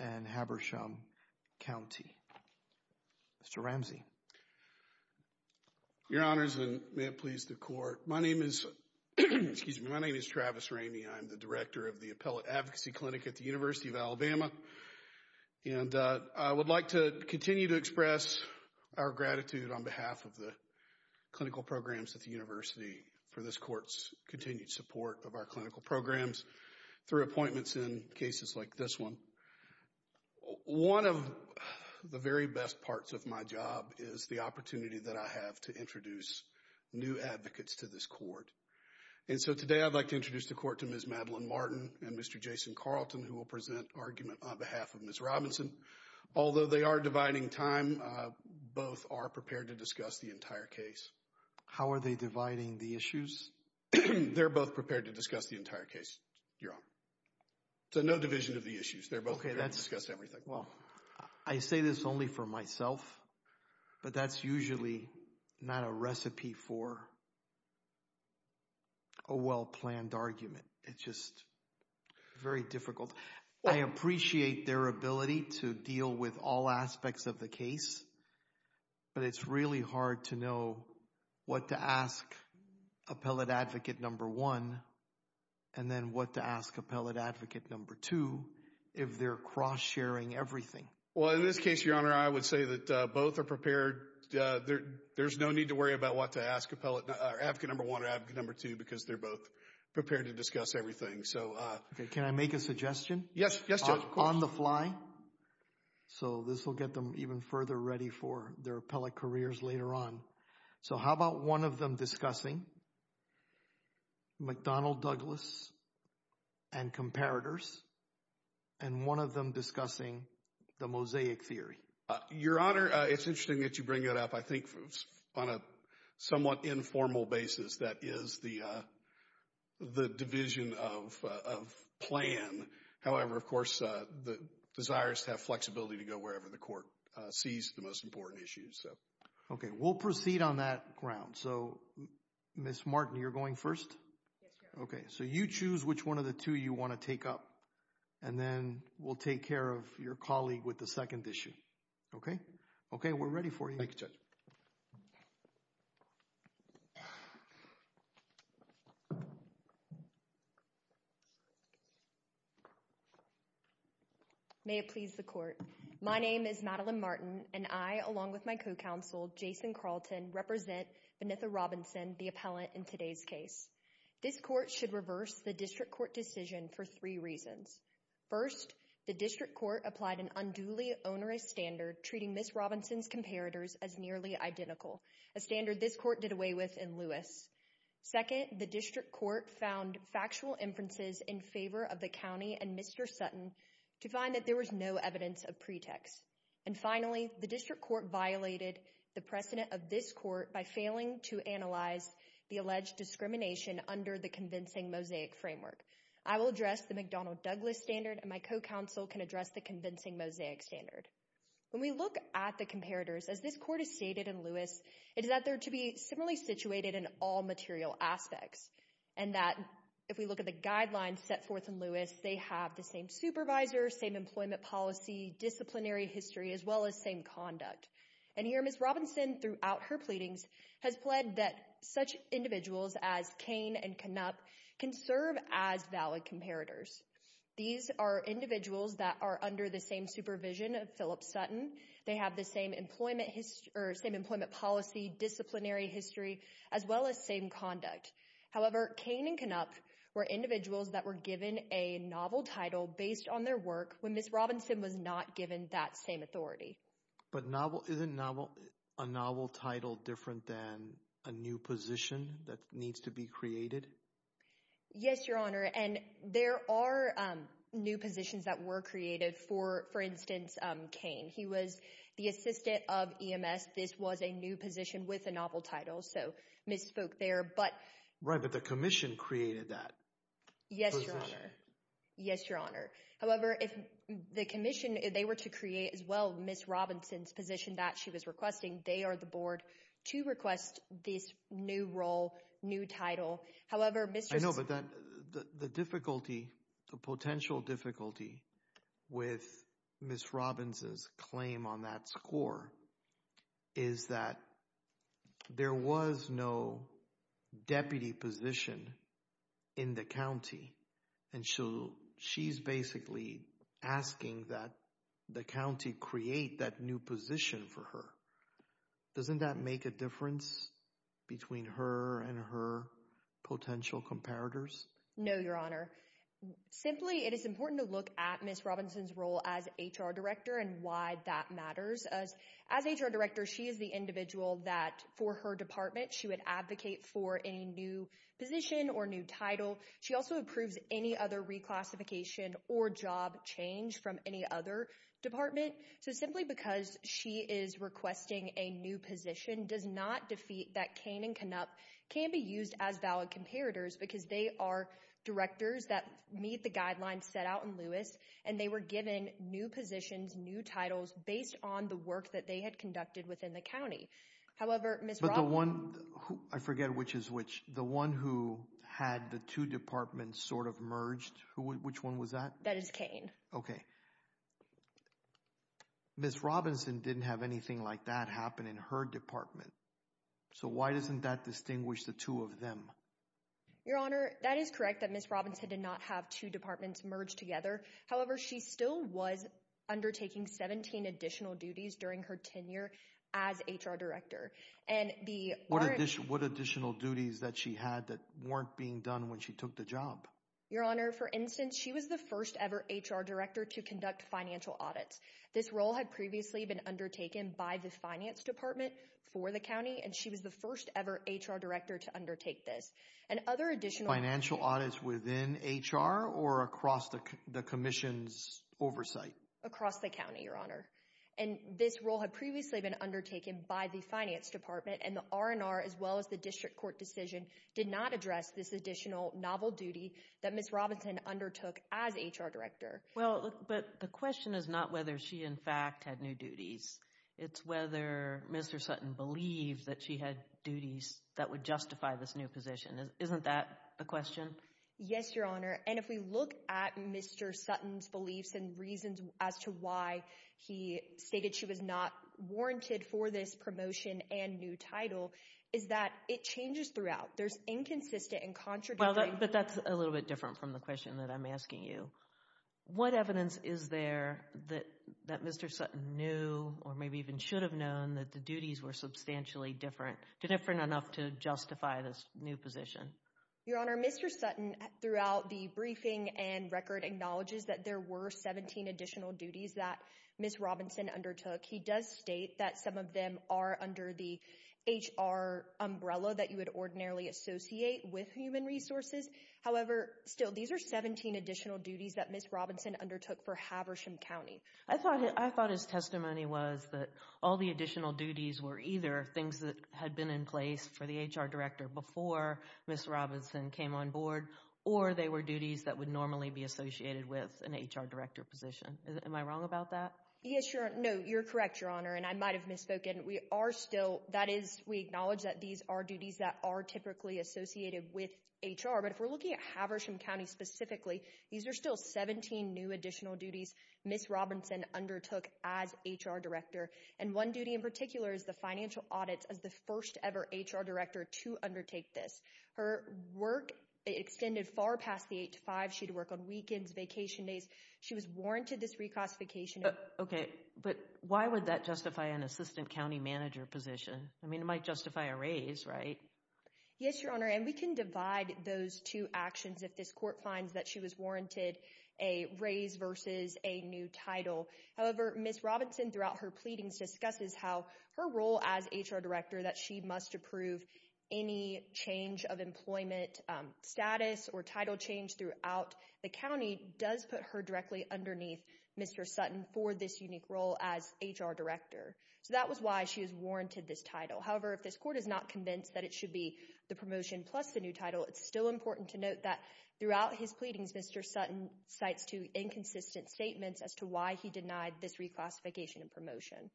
and Habersham County. Mr. Ramsey. Your Honors, and may it please the Court, my name is Travis Rainey. I'm the Director of the Appellate Advocacy Clinic at the University of Alabama, and I would like to continue to express our gratitude on behalf of the clinical programs at the University for this Court's continued support of our clinical programs through appointments in cases like this one. One of the very best parts of my job is the opportunity that I have to introduce new advocates to this Court. And so today I'd like to introduce the Court to Ms. Madeline Martin and Mr. Jason Carlton, who will present argument on behalf of Ms. Robinson. Although they are dividing time, both are prepared to discuss the entire case. How are they dividing the issues? They're both prepared to discuss the entire case, Your Honor. So no division of the issues. They're both prepared to discuss everything. Well, I say this only for myself, but that's usually not a recipe for a well-planned argument. It's just very difficult. I appreciate their ability to deal with all aspects of the case, but it's really hard to know what to ask Appellate Advocate Number One and then what to ask Appellate Advocate Number Two if they're cross-sharing everything. Well, in this case, Your Honor, I would say that both are prepared. There's no need to worry about what to ask Appellate Advocate Number One or Advocate Number Two because they're both prepared to discuss everything. Can I make a suggestion? Yes, Judge. On the fly. So this will get them even further ready for their appellate careers later on. So how about one of them discussing McDonnell-Douglas and comparators, and one of them discussing the mosaic theory? Your Honor, it's interesting that you bring that up. I think on a somewhat informal basis, that is the division of plan. However, of course, the desire is to have flexibility to go wherever the court sees the most important issues. Okay. We'll proceed on that ground. So Ms. Martin, you're going first? Yes, Your Honor. Okay. So you choose which one of the two you want to take up, and then we'll take care of your colleague with the second issue. Okay? Okay. We're ready for you. Thank you, Judge. May it please the court. My name is Madeline Martin, and I, along with my co-counsel, Jason Carlton, represent Vanitha Robinson, the appellant in today's case. This court should reverse the district court decision for three reasons. First, the district court applied an unduly onerous standard treating Ms. Robinson's comparators as nearly identical, a standard this court did away with in Lewis. Second, the district court found factual inferences in favor of the county and Mr. Sutton to find that there was no evidence of pretext. And finally, the district court violated the precedent of this court by failing to analyze the alleged discrimination under the convincing mosaic framework. I will address the McDonnell-Douglas standard, and my co-counsel can address the convincing mosaic standard. When we look at the comparators, as this court has stated in Lewis, it is that they're to be similarly situated in all material aspects, and that if we look at the guidelines set forth in Lewis, they have the same supervisor, same employment policy, disciplinary history, as well as same conduct. And here, Ms. Robinson, throughout her pleadings, has pled that such individuals as Kane and Knupp can serve as valid comparators. These are individuals that are under the same supervision of Philip Sutton. They have the same employment history, or same employment policy, disciplinary history, as well as same conduct. However, Kane and Knupp were individuals that were given a novel title based on their work when Ms. Robinson was not given that same authority. But isn't a novel title different than a new position that needs to be created? Yes, Your Honor, and there are new positions that were created. For instance, Kane, he was the assistant of EMS. This was a new position with a novel title, so misspoke there. Right, but the commission created that position. Yes, Your Honor. However, if the commission, if they were to create, as well, Ms. Robinson's position that she was requesting, they are the board to request this new role, new title. However, Mr. I know, but the difficulty, the potential difficulty with Ms. Robinson's claim on that score is that there was no deputy position in the county. And so she's basically asking that the county create that new position for her. Doesn't that make a difference between her and her potential comparators? No, Your Honor. Simply, it is important to look at Ms. Robinson's role as HR director and why that matters. As HR director, she is the individual that, for her department, she would advocate for a new position or new title. She also approves any other reclassification or job change from any other department. So simply because she is requesting a new position does not defeat that Kane and Kanup can be used as valid comparators because they are directors that meet the guidelines set out in Lewis and they were given new positions, new titles based on the work that they had conducted within the county. However, I forget which is which. The one who had the two departments sort of merged, which one was that? That is Kane. Okay. Ms. Robinson didn't have anything like that happen in her department. So why doesn't that distinguish the two of them? Your Honor, that is correct that Ms. Robinson did not have two departments merged together. However, she still was undertaking 17 additional duties during her tenure as HR director. What additional duties that she had that weren't being done when she took the job? Your Honor, for instance, she was the first ever HR director to conduct financial audits. This role had previously been undertaken by the finance department for the county and she was the first ever HR director to undertake this. Financial audits within HR or across the commission's oversight? Across the county, Your Honor. And this role had previously been undertaken by the finance department and the R&R as well as the district court decision did not address this additional novel duty that Ms. Robinson undertook as HR director. Well, but the question is not whether she in fact had new duties. It's whether Mr. Sutton believed that she had duties that would justify this new position. Isn't that the question? Yes, Your Honor. And if we look at Mr. Sutton's beliefs and reasons as to why he stated she was not warranted for this promotion and new title is that it changes throughout. There's inconsistent and contradictory... Well, but that's a little bit different from the question that I'm asking you. What evidence is there that Mr. Sutton knew or maybe even should have known that the duties were substantially different, different enough to justify this new position? Your Honor, Mr. Sutton throughout the briefing and record acknowledges that there were 17 additional duties that Ms. Robinson undertook. He does state that some of them are under the HR umbrella that you would ordinarily associate with human resources. However, still, these are 17 additional duties that Ms. Robinson undertook for Haversham County. I thought his testimony was that all the additional duties were either things that had been in place for the HR director before Ms. Robinson came on board or they were duties that would normally be associated with an HR director position. Am I wrong about that? Yes, Your Honor. No, you're correct, Your Honor. And I might have misspoken. We are still, that is, we acknowledge that these are duties that are typically associated with HR. But if we're looking at Haversham County specifically, these are still 17 new additional duties Ms. Robinson undertook as HR director. And one duty in particular is the financial audits as the first ever HR director to undertake this. Her work extended far past the 8 to 5. She'd work on weekends, vacation days. She was warranted this reclassification. Okay, but why would that justify an assistant county manager position? I mean, it might justify a raise, right? Yes, Your Honor. And we can divide those two actions if this court finds that she was warranted a raise versus a new title. However, Ms. Robinson, throughout her pleadings, discusses how her role as HR director that she must approve any change of employment status or title change throughout the county does put her directly underneath Mr. Sutton for this unique role as HR director. So that was why she was warranted this title. However, if this court is not convinced that it should be the promotion plus the new title, it's still important to note that throughout his pleadings, Mr. Sutton cites two inconsistent statements as to why he denied this reclassification and promotion.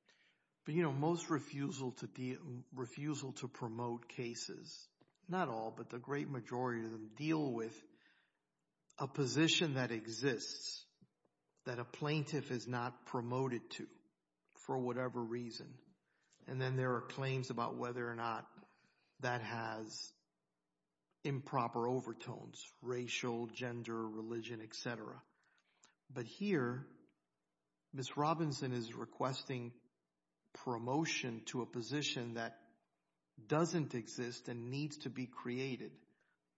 But you know, most refusal to deal, refusal to promote cases, not all, but the great majority of them deal with a position that exists that a plaintiff is not promoted to for whatever reason. And then there are claims about whether or not that has improper overtones, racial, gender, religion, etc. But here, Ms. Robinson is requesting promotion to a position that doesn't exist and needs to be created.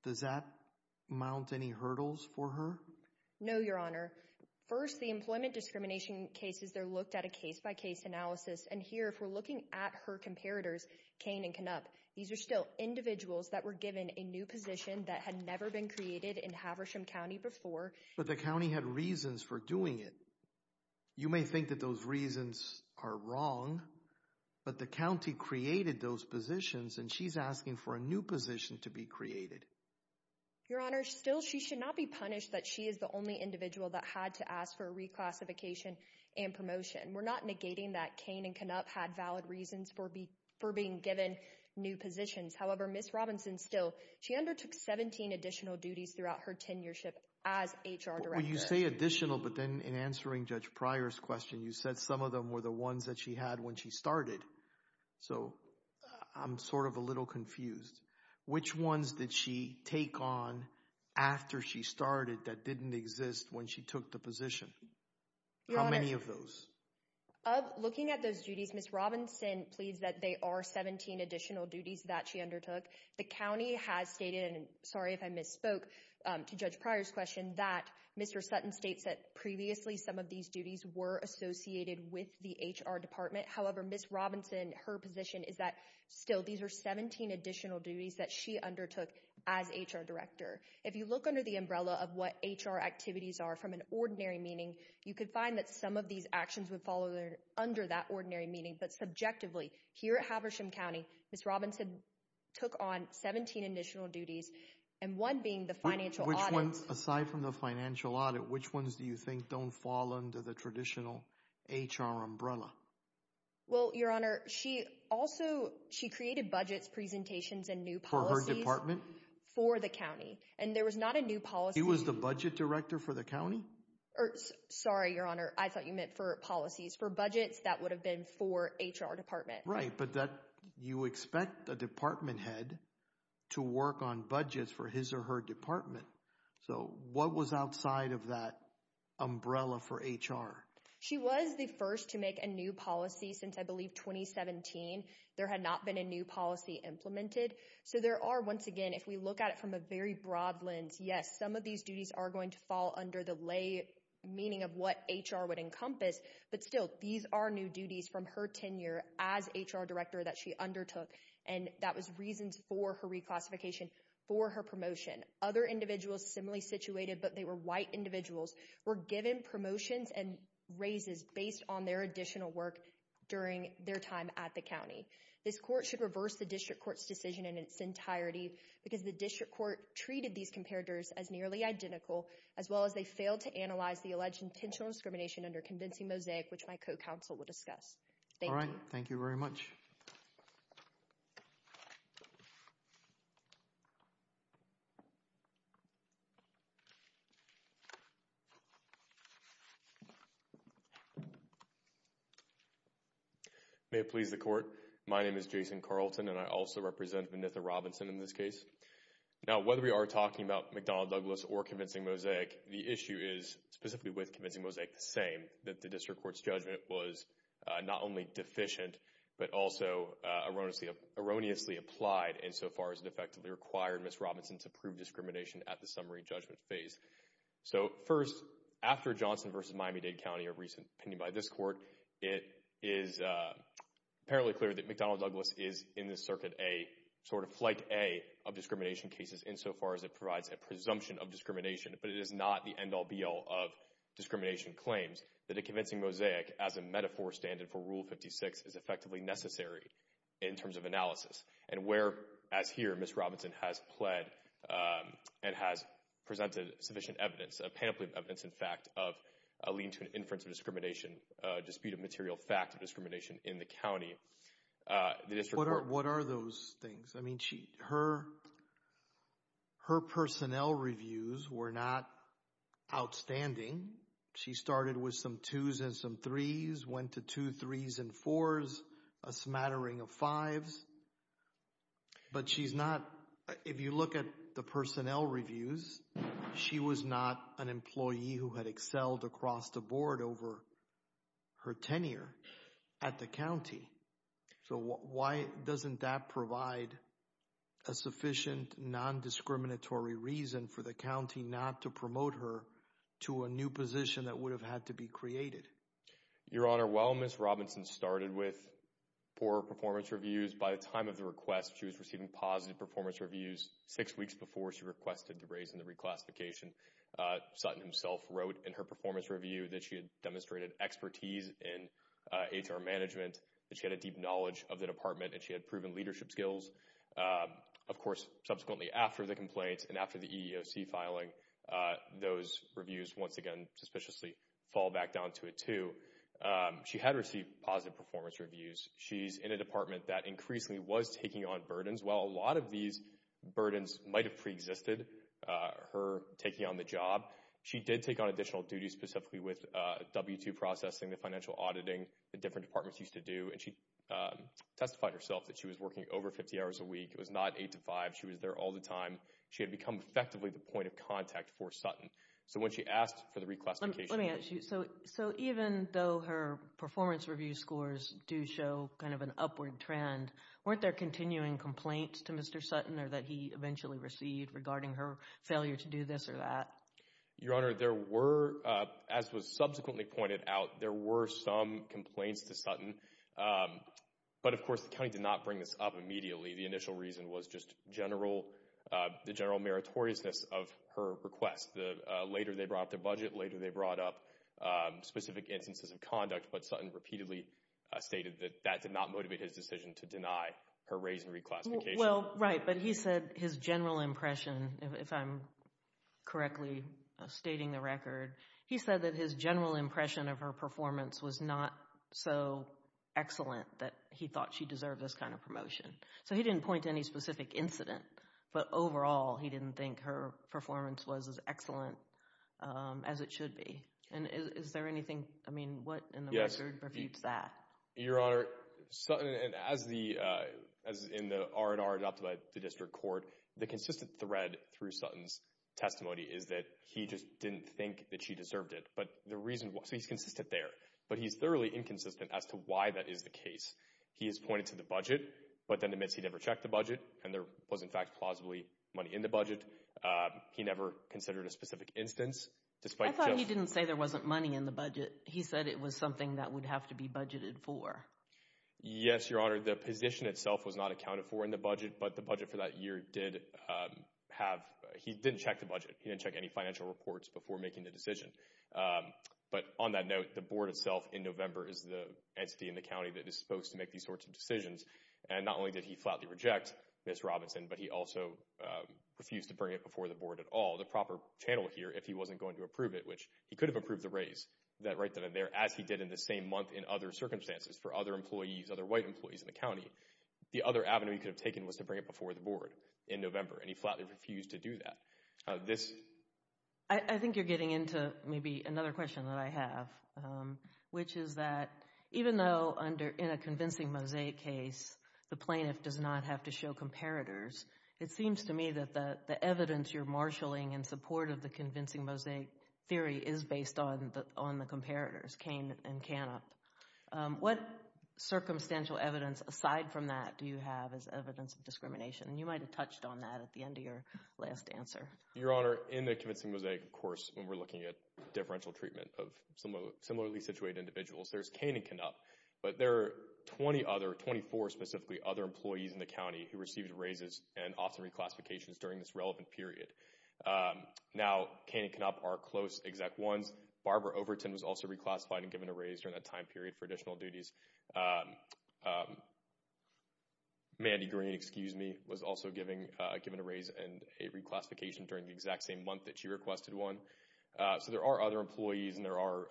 Does that mount any hurdles for her? No, Your Honor. First, the employment discrimination cases, they're looked at a case-by-case analysis. And here, if we're looking at her comparators, Cain and Knupp, these are still individuals that were given a new position that had never been created in Haversham County before. But the county had reasons for doing it. You may think that those reasons are wrong, but the county created those positions and she's asking for a new position to be created. Your Honor, still, she should not be punished that she is the only individual that had to ask for a reclassification and promotion. We're not indicating that Cain and Knupp had valid reasons for being given new positions. However, Ms. Robinson still, she undertook 17 additional duties throughout her tenureship as HR Director. When you say additional, but then in answering Judge Pryor's question, you said some of them were the ones that she had when she started. So, I'm sort of a little confused. Which ones did she take on after she started that didn't exist when she took the position? How many of those? Of looking at those duties, Ms. Robinson pleads that they are 17 additional duties that she undertook. The county has stated, and sorry if I misspoke to Judge Pryor's question, that Mr. Sutton states that previously some of these duties were associated with the HR Department. However, Ms. Robinson, her position is that still these are 17 additional duties that she undertook as HR Director. If you look under the umbrella of what HR activities are from an ordinary meeting, you could find that some of these actions would fall under that ordinary meeting. But subjectively, here at Haversham County, Ms. Robinson took on 17 additional duties, and one being the financial audit. Aside from the financial audit, which ones do you think don't fall under the traditional HR umbrella? Well, Your Honor, she also, she created budgets, presentations, and new policies for the county, and there was not a new policy. She was the budget director for the county? Or, sorry, Your Honor, I thought you meant for policies. For budgets, that would have been for HR Department. Right, but that, you expect a department head to work on budgets for his or her department. So what was outside of that umbrella for HR? She was the first to make a new policy since, I believe, 2017. There had not been a new policy implemented. So there are, once again, if we look at it from a very broad lens, yes, some of these duties are going to fall under the lay meaning of what HR would encompass, but still, these are new duties from her tenure as HR director that she undertook, and that was reasons for her reclassification, for her promotion. Other individuals similarly situated, but they were white individuals, were given promotions and raises based on their additional work during their time at the county. This court should reverse the district court's decision in its entirety because the district court treated these comparators as nearly identical, as well as they failed to analyze the alleged intentional discrimination under convincing mosaic, which my co-counsel will discuss. Thank you. All right, thank you very much. May it please the court, my name is Jason Carlton and I also represent Vanitha Robinson in this case. Now, whether we are talking about McDonnell Douglas or convincing mosaic, the issue is specifically with convincing mosaic the same, that the district court's judgment was not only deficient, but also erroneously applied insofar as it effectively required Ms. Robinson to prove discrimination at the summary judgment phase. So, first, after Johnson v. Miami-Dade County, a recent opinion by this court, it is apparently clear that McDonnell Douglas is in this circuit a sort of flight A of discrimination cases insofar as it provides a presumption of discrimination, but it is not the end-all be-all of discrimination claims, that a standard for Rule 56 is effectively necessary in terms of analysis, and where, as here, Ms. Robinson has pled and has presented sufficient evidence, a panoply of evidence, in fact, of a lien to an inference of discrimination, a dispute of material fact of discrimination in the county. What are those things? I mean, her personnel reviews were not outstanding. She started with some twos and some threes, went to two threes and fours, a smattering of fives, but she's not, if you look at the personnel reviews, she was not an employee who had excelled across the board over her tenure at the county. So, why doesn't that provide a sufficient non-discriminatory reason for the county not to promote her to a new position that would have had to be created? Your Honor, while Ms. Robinson started with poor performance reviews, by the time of the request, she was receiving positive performance reviews. Six weeks before she requested the raise in the reclassification, Sutton himself wrote in her performance review that she had demonstrated expertise in HR management, that she had a deep knowledge of the department, and she had proven the complaint, and after the EEOC filing, those reviews, once again, suspiciously fall back down to a two. She had received positive performance reviews. She's in a department that increasingly was taking on burdens. While a lot of these burdens might have preexisted, her taking on the job, she did take on additional duties specifically with W-2 processing, the financial auditing that different departments used to do, and she testified herself that she was working over 50 hours a week. It was not eight to five. She was there all the time. She had become effectively the point of contact for Sutton. So when she asked for the reclassification... Let me ask you, so even though her performance review scores do show kind of an upward trend, weren't there continuing complaints to Mr. Sutton or that he eventually received regarding her failure to do this or that? Your Honor, there were, as was subsequently pointed out, there were some complaints to Sutton, but of course the county did not bring this up immediately. The initial reason was just the general meritoriousness of her request. Later they brought up the budget. Later they brought up specific instances of conduct, but Sutton repeatedly stated that that did not motivate his decision to deny her raise and reclassification. Well, right, but he said his general impression, if I'm correctly stating the record, he said that his general impression of her performance was not so excellent that he thought she deserved this kind of promotion. So he didn't point to any specific incident, but overall he didn't think her performance was as excellent as it should be. And is there anything, I mean, what in the record refutes that? Your Honor, Sutton, and as in the R&R adopted by the District Court, the consistent thread through Sutton's testimony is that he just didn't think that she deserved it. So he's consistent there, but he's thoroughly inconsistent as to why that is the case. He has pointed to the budget, but then admits he never checked the budget and there was in fact plausibly money in the budget. He never considered a specific instance. I thought he didn't say there wasn't money in the budget. He said it was something that would have to be budgeted for. Yes, Your Honor, the position itself was not accounted for in the budget, but the budget for that year did have, he didn't check the budget. He didn't check any financial reports before making the decision. But on that note, the board itself in November is the entity in the county that is supposed to make these sorts of decisions, and not only did he flatly reject Ms. Robinson, but he also refused to bring it before the board at all. The proper channel here, if he wasn't going to approve it, which he could have approved the raise, that right there, as he did in the same month in other circumstances for other employees, other white employees in the county. The other avenue he could have taken was to bring it before the board in November, and he didn't. I think you're getting into maybe another question that I have, which is that even though in a convincing mosaic case, the plaintiff does not have to show comparators, it seems to me that the evidence you're marshaling in support of the convincing mosaic theory is based on the comparators, Kane and Canup. What circumstantial evidence aside from that do you have as evidence of discrimination? You might have touched on that at the end of your last answer. Your Honor, in the convincing mosaic, of course, when we're looking at differential treatment of similarly situated individuals, there's Kane and Canup, but there are 20 other, 24 specifically, other employees in the county who received raises and often reclassifications during this relevant period. Now, Kane and Canup are close Exec 1s. Barbara Overton was also reclassified and given a raise during that time period for additional duties. Mandy Green, excuse me, was also given a raise and a reclassification during the exact same month that she requested one. So there are other employees, and there are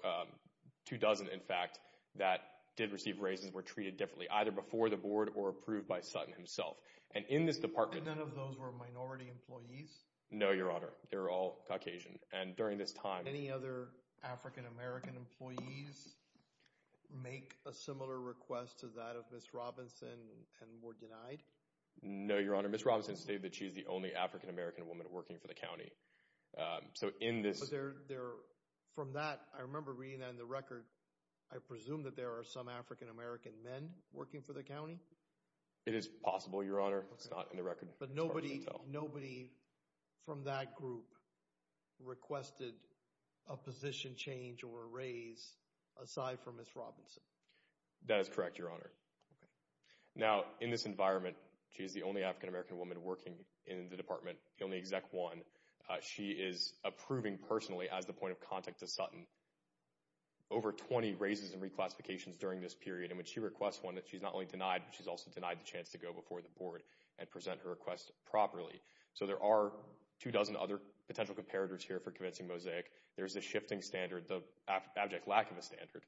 two dozen, in fact, that did receive raises were treated differently, either before the board or approved by Sutton himself. And in this department... None of those were minority employees? No, Your Honor. They're all Caucasian. And during this time... Did the employees make a similar request to that of Ms. Robinson and were denied? No, Your Honor. Ms. Robinson stated that she's the only African-American woman working for the county. So in this... From that, I remember reading that in the record, I presume that there are some African-American men working for the county? It is possible, Your Honor. It's not in the record. Nobody from that group requested a position change or a raise aside from Ms. Robinson? That is correct, Your Honor. Now, in this environment, she is the only African-American woman working in the department, the only Exec 1. She is approving personally as the point of contact to Sutton over 20 raises and reclassifications during this period. And when she requests one, she's not only denied, but she's also denied the chance to go before the board and present her request properly. So there are two dozen other potential comparators here for convincing Mosaic. There's the shifting standard, the abject lack of a standard,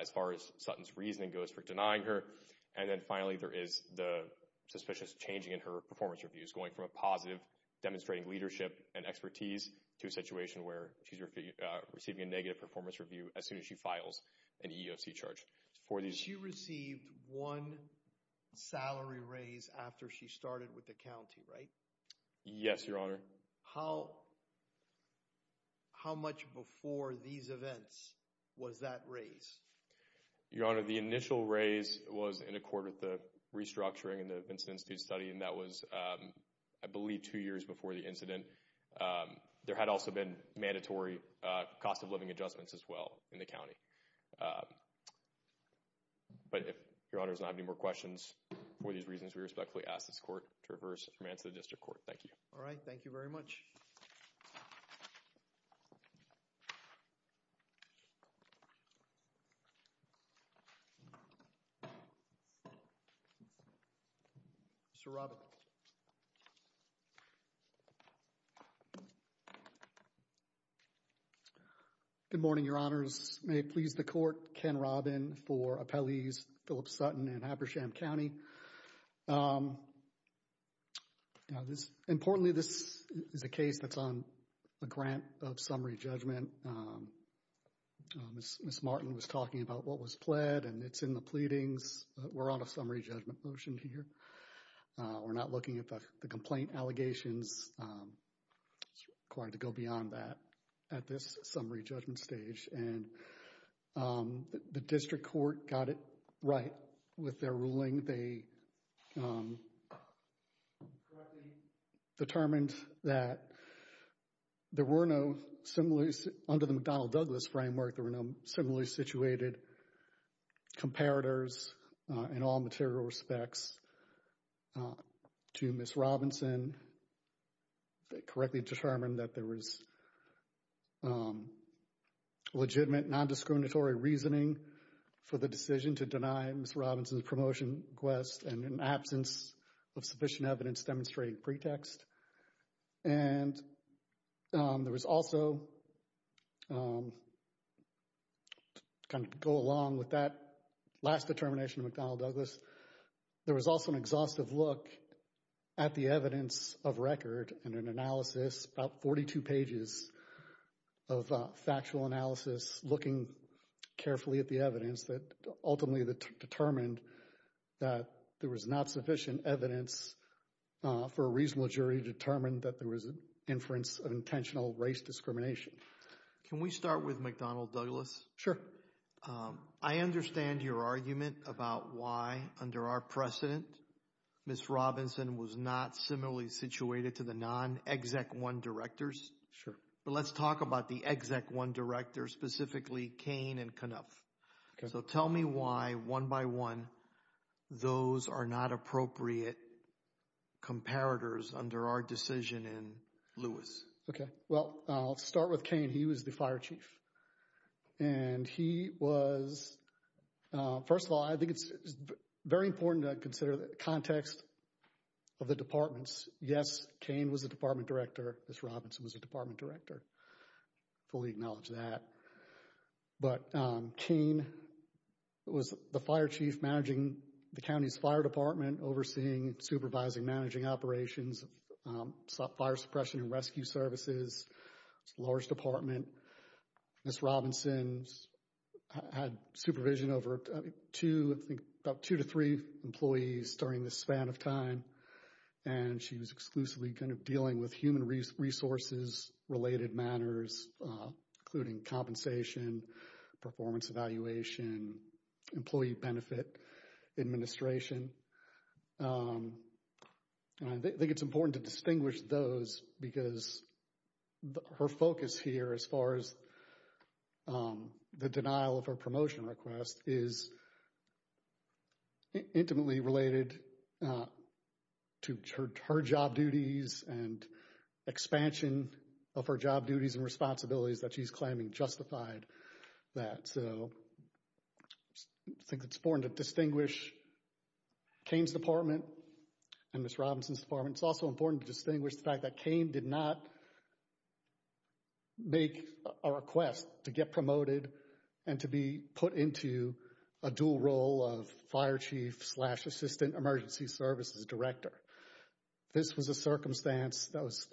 as far as Sutton's reasoning goes for denying her. And then finally, there is the suspicious changing in her performance reviews, going from a positive, demonstrating leadership and expertise to a situation where she's receiving a negative performance review as soon as she files an EEOC charge. She received one salary raise after she started with the county, right? Yes, Your Honor. How much before these events was that raise? Your Honor, the initial raise was in accord with the restructuring in the Vincent Institute study, and that was, I believe, two years before the incident. There had also been mandatory cost of living adjustments as well in the county. But if Your Honor does not have any more questions for these reasons, we respectfully ask this court to reverse and remand to the district court. Thank you. All right. Thank you very much. Mr. Robin. Good morning, Your Honors. May it please the court, Ken Robin for appellees Philip Sutton and Habersham County. Now, this, importantly, this is a case that's on a grant of summary judgment. Ms. Martin was talking about what was pled, and it's in the pleadings. We're on a summary judgment motion here. We're not looking at the complaint allegations. It's required to go beyond that at this summary judgment stage. And the district court got it right with their ruling. They correctly determined that there were no similarly, under the McDonnell-Douglas framework, there were no similarly situated comparators in all material respects to Ms. Robinson. They correctly determined that there was legitimate non-discriminatory reasoning for the decision to deny Ms. Robinson's promotion request and an absence of sufficient evidence demonstrating pretext. And there was also, kind of go along with that last determination of McDonnell-Douglas, there was also an exhaustive look at the evidence of record and an analysis, about 42 pages of factual analysis, looking carefully at the evidence that ultimately determined that there was not sufficient evidence for a reasonable jury to determine that there was an inference of intentional race discrimination. Can we start with McDonnell-Douglas? Sure. I understand your argument about why, under our precedent, Ms. Robinson was not similarly situated to the non-Exec 1 directors. Sure. But let's talk about the Exec 1 directors, specifically Kane and Knuff. So tell me why, one by one, those are not appropriate comparators under our decision in Lewis. Okay. Well, I'll start with Kane. He was the fire chief. And he was, first of all, I think it's very important to consider the context of the departments. Yes, Kane was the department director. Ms. Robinson was the department director. Fully acknowledge that. But Kane was the fire chief managing the county's fire department, overseeing, supervising, managing operations, fire suppression and rescue services, large department. Ms. Robinson had supervision over two, I think, about two to three employees during this span of time. And she was exclusively kind of dealing with human resources-related matters, including compensation, performance evaluation, employee benefit administration. And I think it's important to distinguish those because her focus here, as far as the denial of her promotion request, is intimately related to her job duties and expansion of her job duties and responsibilities that she's claiming justified that. So I think it's important to distinguish Kane's department and Ms. Robinson's department. It's also important to distinguish the fact that Kane did not make a request to get promoted and to be put into a dual role of fire chief slash assistant emergency services director. This was a circumstance that was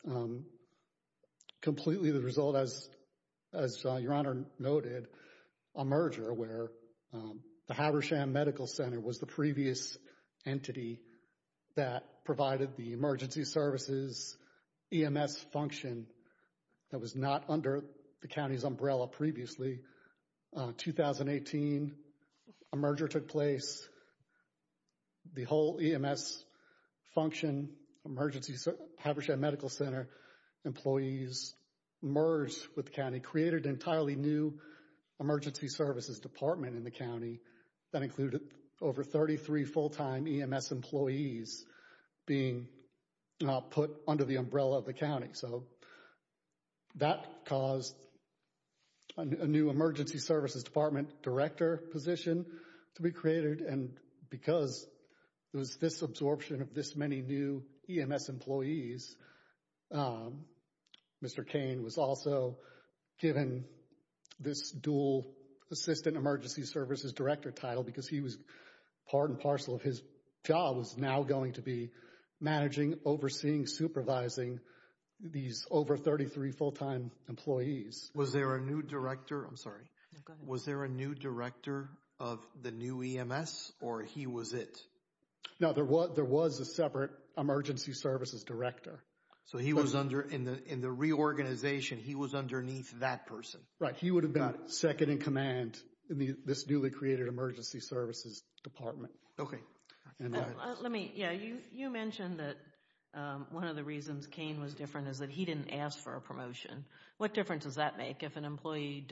completely the result, as Your Honor noted, a merger where the Habersham Medical Center was the previous entity that provided the emergency services EMS function that was not under the county's umbrella previously. 2018, a merger took place. The whole EMS function, emergency, Habersham Medical Center employees merged with the county, created an entirely new emergency services department in the county that included over 33 full-time EMS employees being put under the umbrella of the county. So that caused a new emergency services department director position to be created. And because there was this absorption of this many new EMS employees, Mr. Kane was also given this dual assistant emergency services director title because he was part and parcel of his job was now going to be managing, overseeing, supervising these over 33 full-time employees. Was there a new director? I'm sorry. Was there a new director of the new EMS or he was it? No, there was a separate emergency services director. So he was under, in the reorganization, he was underneath that person? Right. He would have been second in command in this newly created emergency services department. Okay. Let me, yeah, you mentioned that one of the reasons Kane was different is that he didn't ask for a promotion. What difference does that make if an employee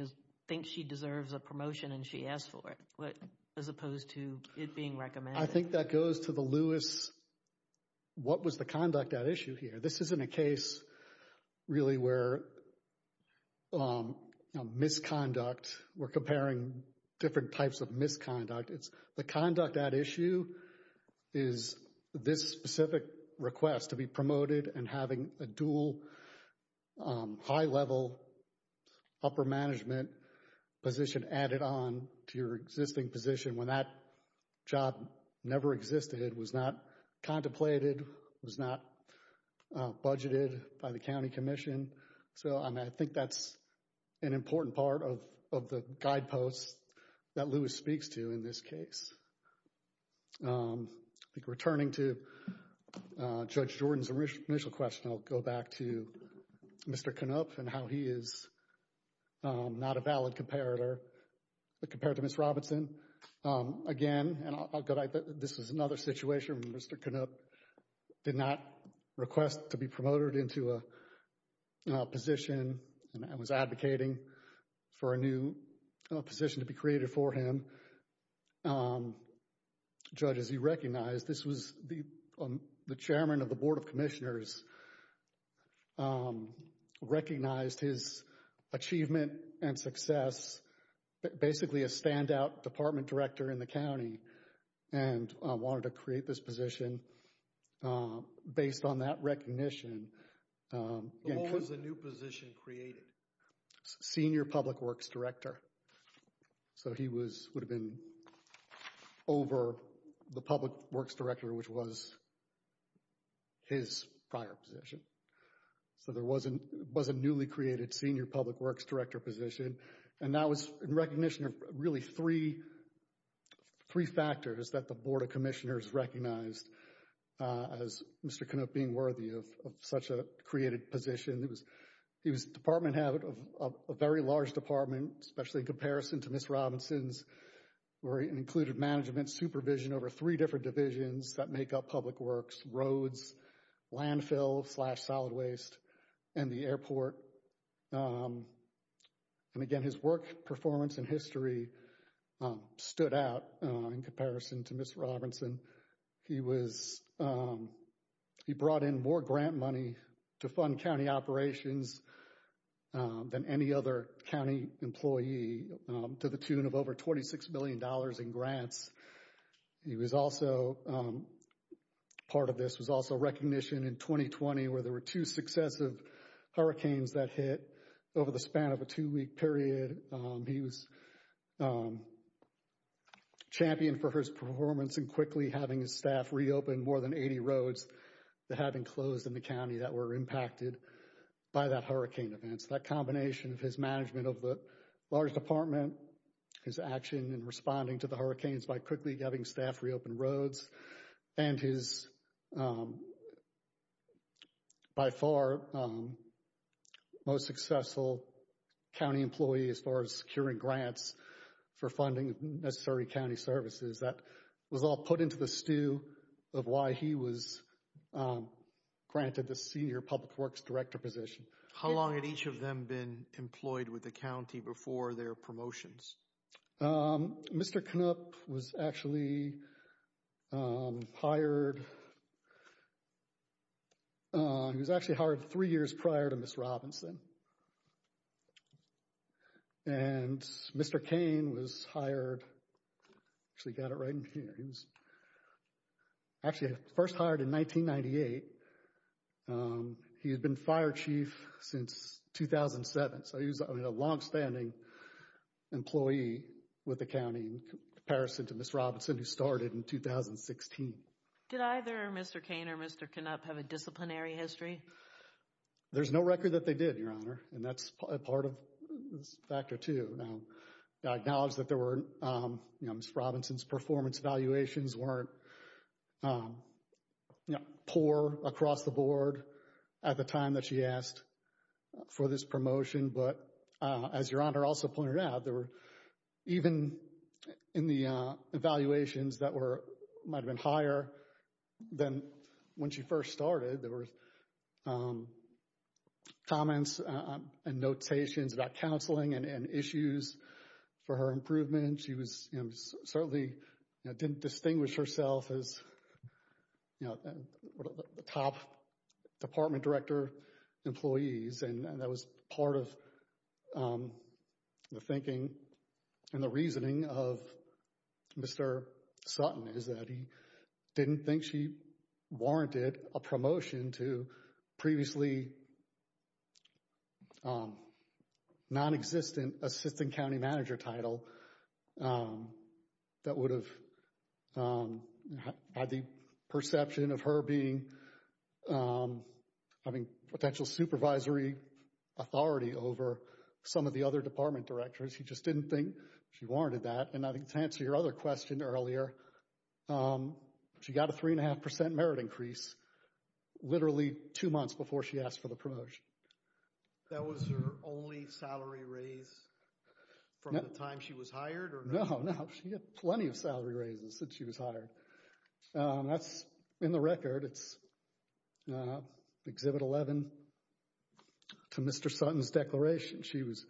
thinks she deserves a promotion and she asks for it as opposed to it being recommended? I think that goes to the Lewis, what was the conduct at issue here? This isn't a case really where misconduct, we're comparing different types of misconduct. It's the conduct at issue is this specific request to be promoted and having a dual high-level upper management position added on to your existing position when that job never existed, was not contemplated, was not budgeted by the county commission. So I think that's an important part of the guideposts that Lewis speaks to in this case. I think returning to Judge Jordan's initial question, I'll go back to Mr. Knopf and how he is not a valid comparator compared to Ms. Robinson. Again, and I'll go back, this was another situation where Mr. Knopf did not request to be promoted into a position and was advocating for a new position to be created for him. Judge, as you recognize, this was the chairman of the board of commissioners who recognized his achievement and success, basically a standout department director in the county and wanted to create this position based on that recognition. But what was the new position created? Senior public works director. So he would have been over the public works director, which was his prior position. So there was a newly created senior public works director position. And that was in recognition of really three factors that the board of commissioners recognized as Mr. Knopf being worthy of such a created position. He was department head of a very large department, especially in comparison to Ms. Robinson's, where he included management supervision over three different divisions that make up public works, roads, landfill, slash solid waste, and the airport. And again, his work performance and history stood out in comparison to Ms. Robinson. He was, he brought in more grant money to fund county operations than any other county employee to the tune of over $26 million in grants He was also, part of this was also recognition in 2020, where there were two successive hurricanes that hit over the span of a two-week period. He was championed for his performance and quickly having his staff reopen more than 80 roads that had been closed in the county that were impacted by that hurricane events. That combination of his management of the large department, his action in responding to the hurricanes by quickly having staff reopen roads, and his, by far, most successful county employee as far as securing grants for funding necessary county services, that was all put into the stew of why he was granted the senior public works director position. How long had each of them been employed with the county before their promotions? Mr. Knupp was actually hired, he was actually hired three years prior to Ms. Robinson. And Mr. Kane was hired, actually got it right in here, he was actually first hired in 1998. He had been fire chief since 2007, so he was a long-standing employee with the county in comparison to Ms. Robinson, who started in 2016. Did either Mr. Kane or Mr. Knupp have a disciplinary history? There's no record that they did, Your Honor, and that's part of this factor, too. Now, I acknowledge that there were, Ms. Robinson's performance evaluations weren't you know, poor across the board at the time that she asked for this promotion. But as Your Honor also pointed out, there were, even in the evaluations that were, might have been higher than when she first started, there were comments and notations about counseling and issues for her improvement. She was, you know, certainly didn't distinguish herself as, you know, the top department director employees, and that was part of the thinking and the reasoning of Mr. Sutton is that he didn't think she warranted a promotion to previously non-existent assistant county manager title that would have had the perception of her being, having potential supervisory authority over some of the other department directors. He just didn't think she warranted that. And I think to answer your other question earlier, she got a three and a half percent merit increase literally two months before she asked for the promotion. That was her only salary raise from the time she was hired? No, no. She had plenty of salary raises since she was hired. That's in the record. It's Exhibit 11 to Mr. Sutton's declaration. She was,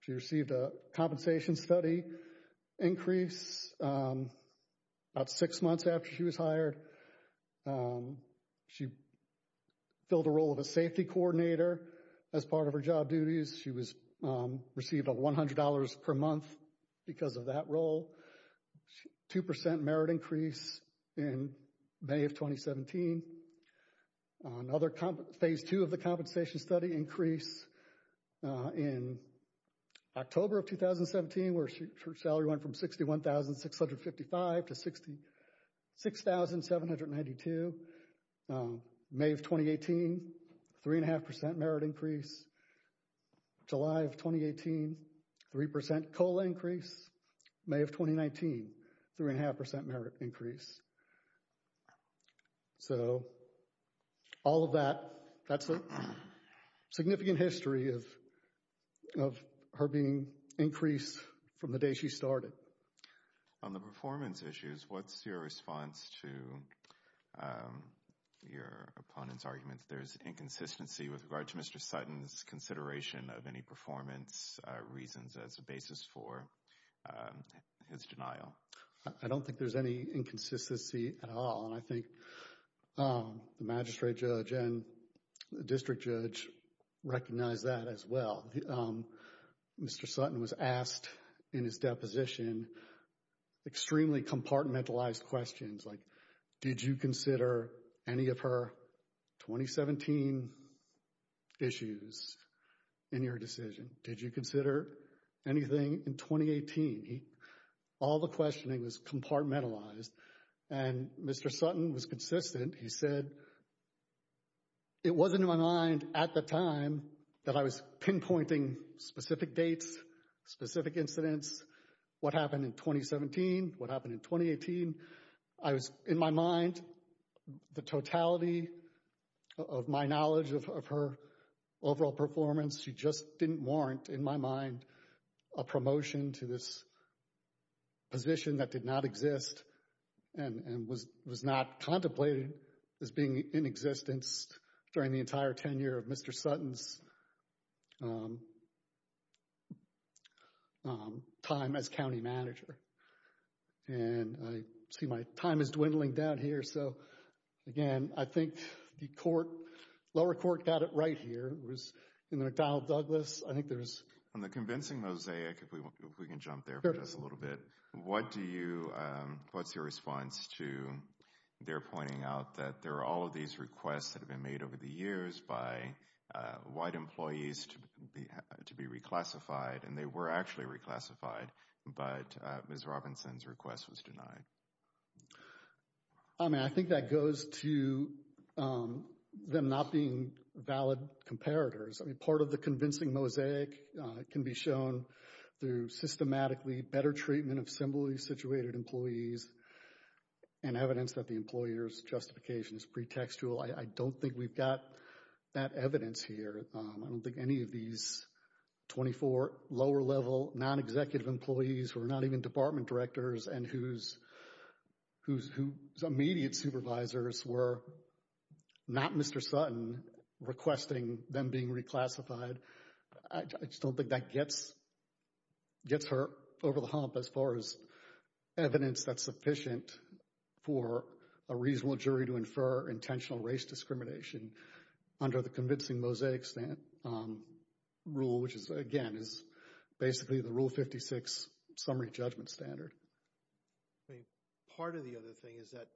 she received a compensation study increase about six months after she was hired. She filled a role of a safety coordinator as part of her job duties. She was received a $100 per month because of that role. Two percent merit increase in May of 2017. Another phase two of the compensation study increase in October of 2017 where her salary went from $61,655 to $66,792. May of 2018, three and a half percent merit increase. July of 2018, three percent COLA increase. May of 2019, three and a half percent merit increase. So all of that, that's a significant history of her being increased from the day she started. On the performance issues, what's your response to your opponent's argument that there's inconsistency with regard to Mr. Sutton's consideration of any performance reasons as basis for his denial? I don't think there's any inconsistency at all and I think the magistrate judge and the district judge recognize that as well. Mr. Sutton was asked in his deposition extremely compartmentalized questions like, did you consider any of her 2017 issues in your decision? Did you consider anything in 2018? All the questioning was compartmentalized and Mr. Sutton was consistent. He said, it wasn't in my mind at the time that I was pinpointing specific dates, specific incidents, what happened in 2017, what happened in 2018. I was in my mind the totality of my knowledge of her overall performance. She just didn't warrant in my mind a promotion to this position that did not exist and was not contemplated as being in existence during the entire tenure of Mr. Sutton's time as county manager. And I see my time is dwindling down here. So again, I think the lower court got it right here. It was in McDonnell Douglas. On the convincing mosaic, if we can jump there for just a little bit, what's your response to their pointing out that there are all of these requests that have been made over the years by white employees to be reclassified and they were actually reclassified, but Ms. Robinson's request was denied? I mean, I think that goes to them not being valid comparators. I mean, part of the convincing mosaic can be shown through systematically better treatment of assembly situated employees and evidence that the employer's justification is pretextual. I don't think we've got that evidence here. I don't think any of these 24 lower level non-executive employees who are not even department directors and whose immediate supervisors were not Mr. Sutton requesting them being reclassified. I just don't think that gets her over the hump as far as sufficient for a reasonable jury to infer intentional race discrimination under the convincing mosaic rule, which is, again, is basically the Rule 56 summary judgment standard. Part of the other thing is that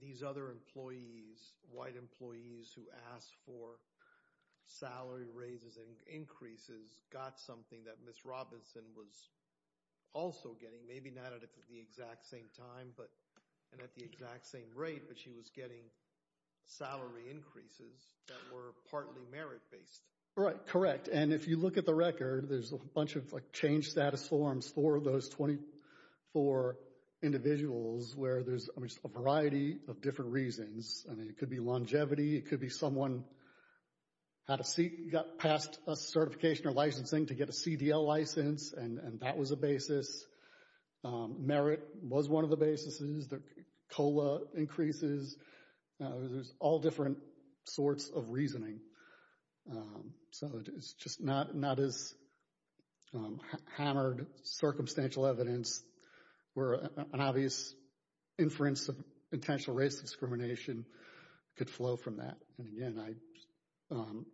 these other employees, white employees who asked for salary raises and increases, got something that Ms. Robinson was also getting, maybe not at the exact same time and at the exact same rate, but she was getting salary increases that were partly merit-based. Right, correct. And if you look at the record, there's a bunch of change status forms for those 24 individuals where there's a variety of different reasons. I mean, it could be longevity. It could be someone had a seat, got passed a certification or licensing to get a CDL license, and that was a basis. Merit was one of the basis. There's COLA increases. There's all different sorts of reasoning. So it's just not as hammered circumstantial evidence where an obvious inference of intentional race discrimination could flow from that. And again, I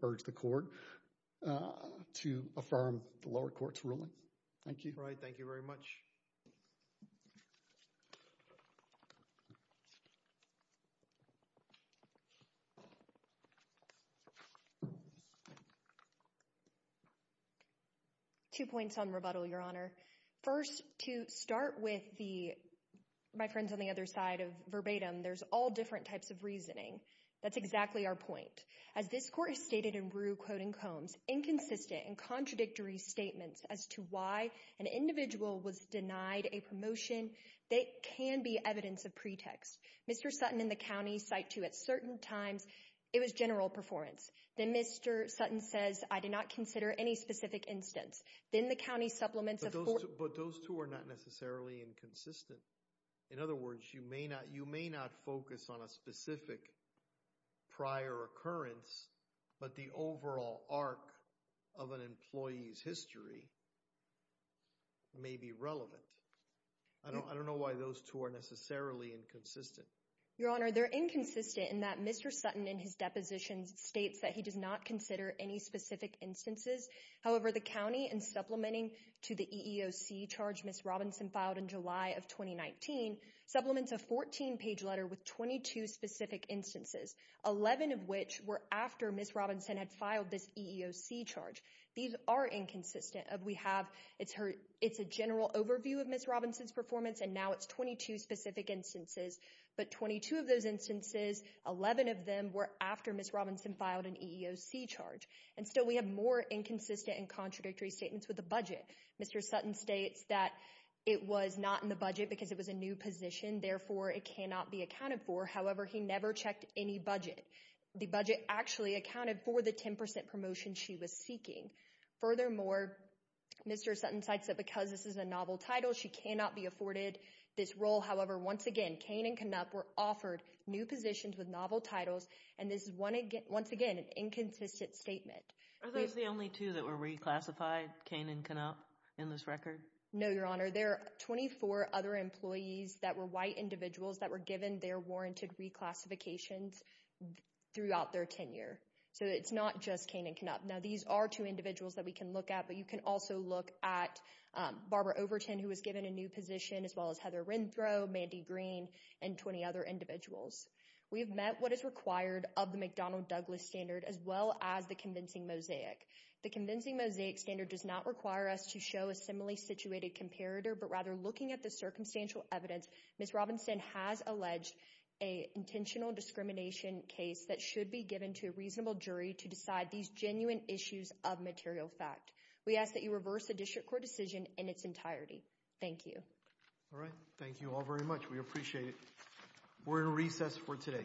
urge the Court to affirm the lower court's ruling. Thank you. All right. Thank you very much. Two points on rebuttal, Your Honor. First, to start with my friends on the other side of there's all different types of reasoning. That's exactly our point. As this Court has stated in Rue, Quote and Combs, inconsistent and contradictory statements as to why an individual was denied a promotion, they can be evidence of pretext. Mr. Sutton and the county cite to at certain times, it was general performance. Then Mr. Sutton says, I did not consider any specific instance. Then the county supplements a... But those two are not necessarily inconsistent. In other words, you may not focus on a specific prior occurrence, but the overall arc of an employee's history may be relevant. I don't know why those two are necessarily inconsistent. Your Honor, they're inconsistent in that Mr. Sutton in his depositions states that he does not consider any specific instances. However, the county in supplementing to the EEOC charge, Ms. Robinson filed in July of 2019, supplements a 14-page letter with 22 specific instances, 11 of which were after Ms. Robinson had filed this EEOC charge. These are inconsistent. We have, it's a general overview of Ms. Robinson's performance, and now it's 22 specific instances. But 22 of those instances, 11 of them were after Ms. Robinson filed an EEOC charge. And still we have more inconsistent and contradictory statements with the budget. Mr. Sutton states that it was not in the budget because it was a new position. Therefore, it cannot be accounted for. However, he never checked any budget. The budget actually accounted for the 10% promotion she was seeking. Furthermore, Mr. Sutton cites that because this is a novel title, she cannot be afforded this role. However, once again, Kane and Knupp were offered new positions with novel titles, and this is once again an inconsistent statement. Are those the only two that were reclassified, Kane and Knupp, in this record? No, Your Honor. There are 24 other employees that were white individuals that were given their warranted reclassifications throughout their tenure. So it's not just Kane and Knupp. Now, these are two individuals that we can look at, but you can also look at Barbara Overton, who was given a new position, as well as Heather Renthrow, Mandy Green, and 20 other individuals. We have met what is required of the McDonnell Douglas standard, as well as the convincing mosaic. The convincing mosaic standard does not require us to show a similarly situated comparator, but rather, looking at the circumstantial evidence, Ms. Robinson has alleged an intentional discrimination case that should be given to a reasonable jury to decide these genuine issues of material fact. We ask that you reverse the district court decision in its entirety. Thank you. All right. Thank you all very much. We appreciate it. We're in recess for today.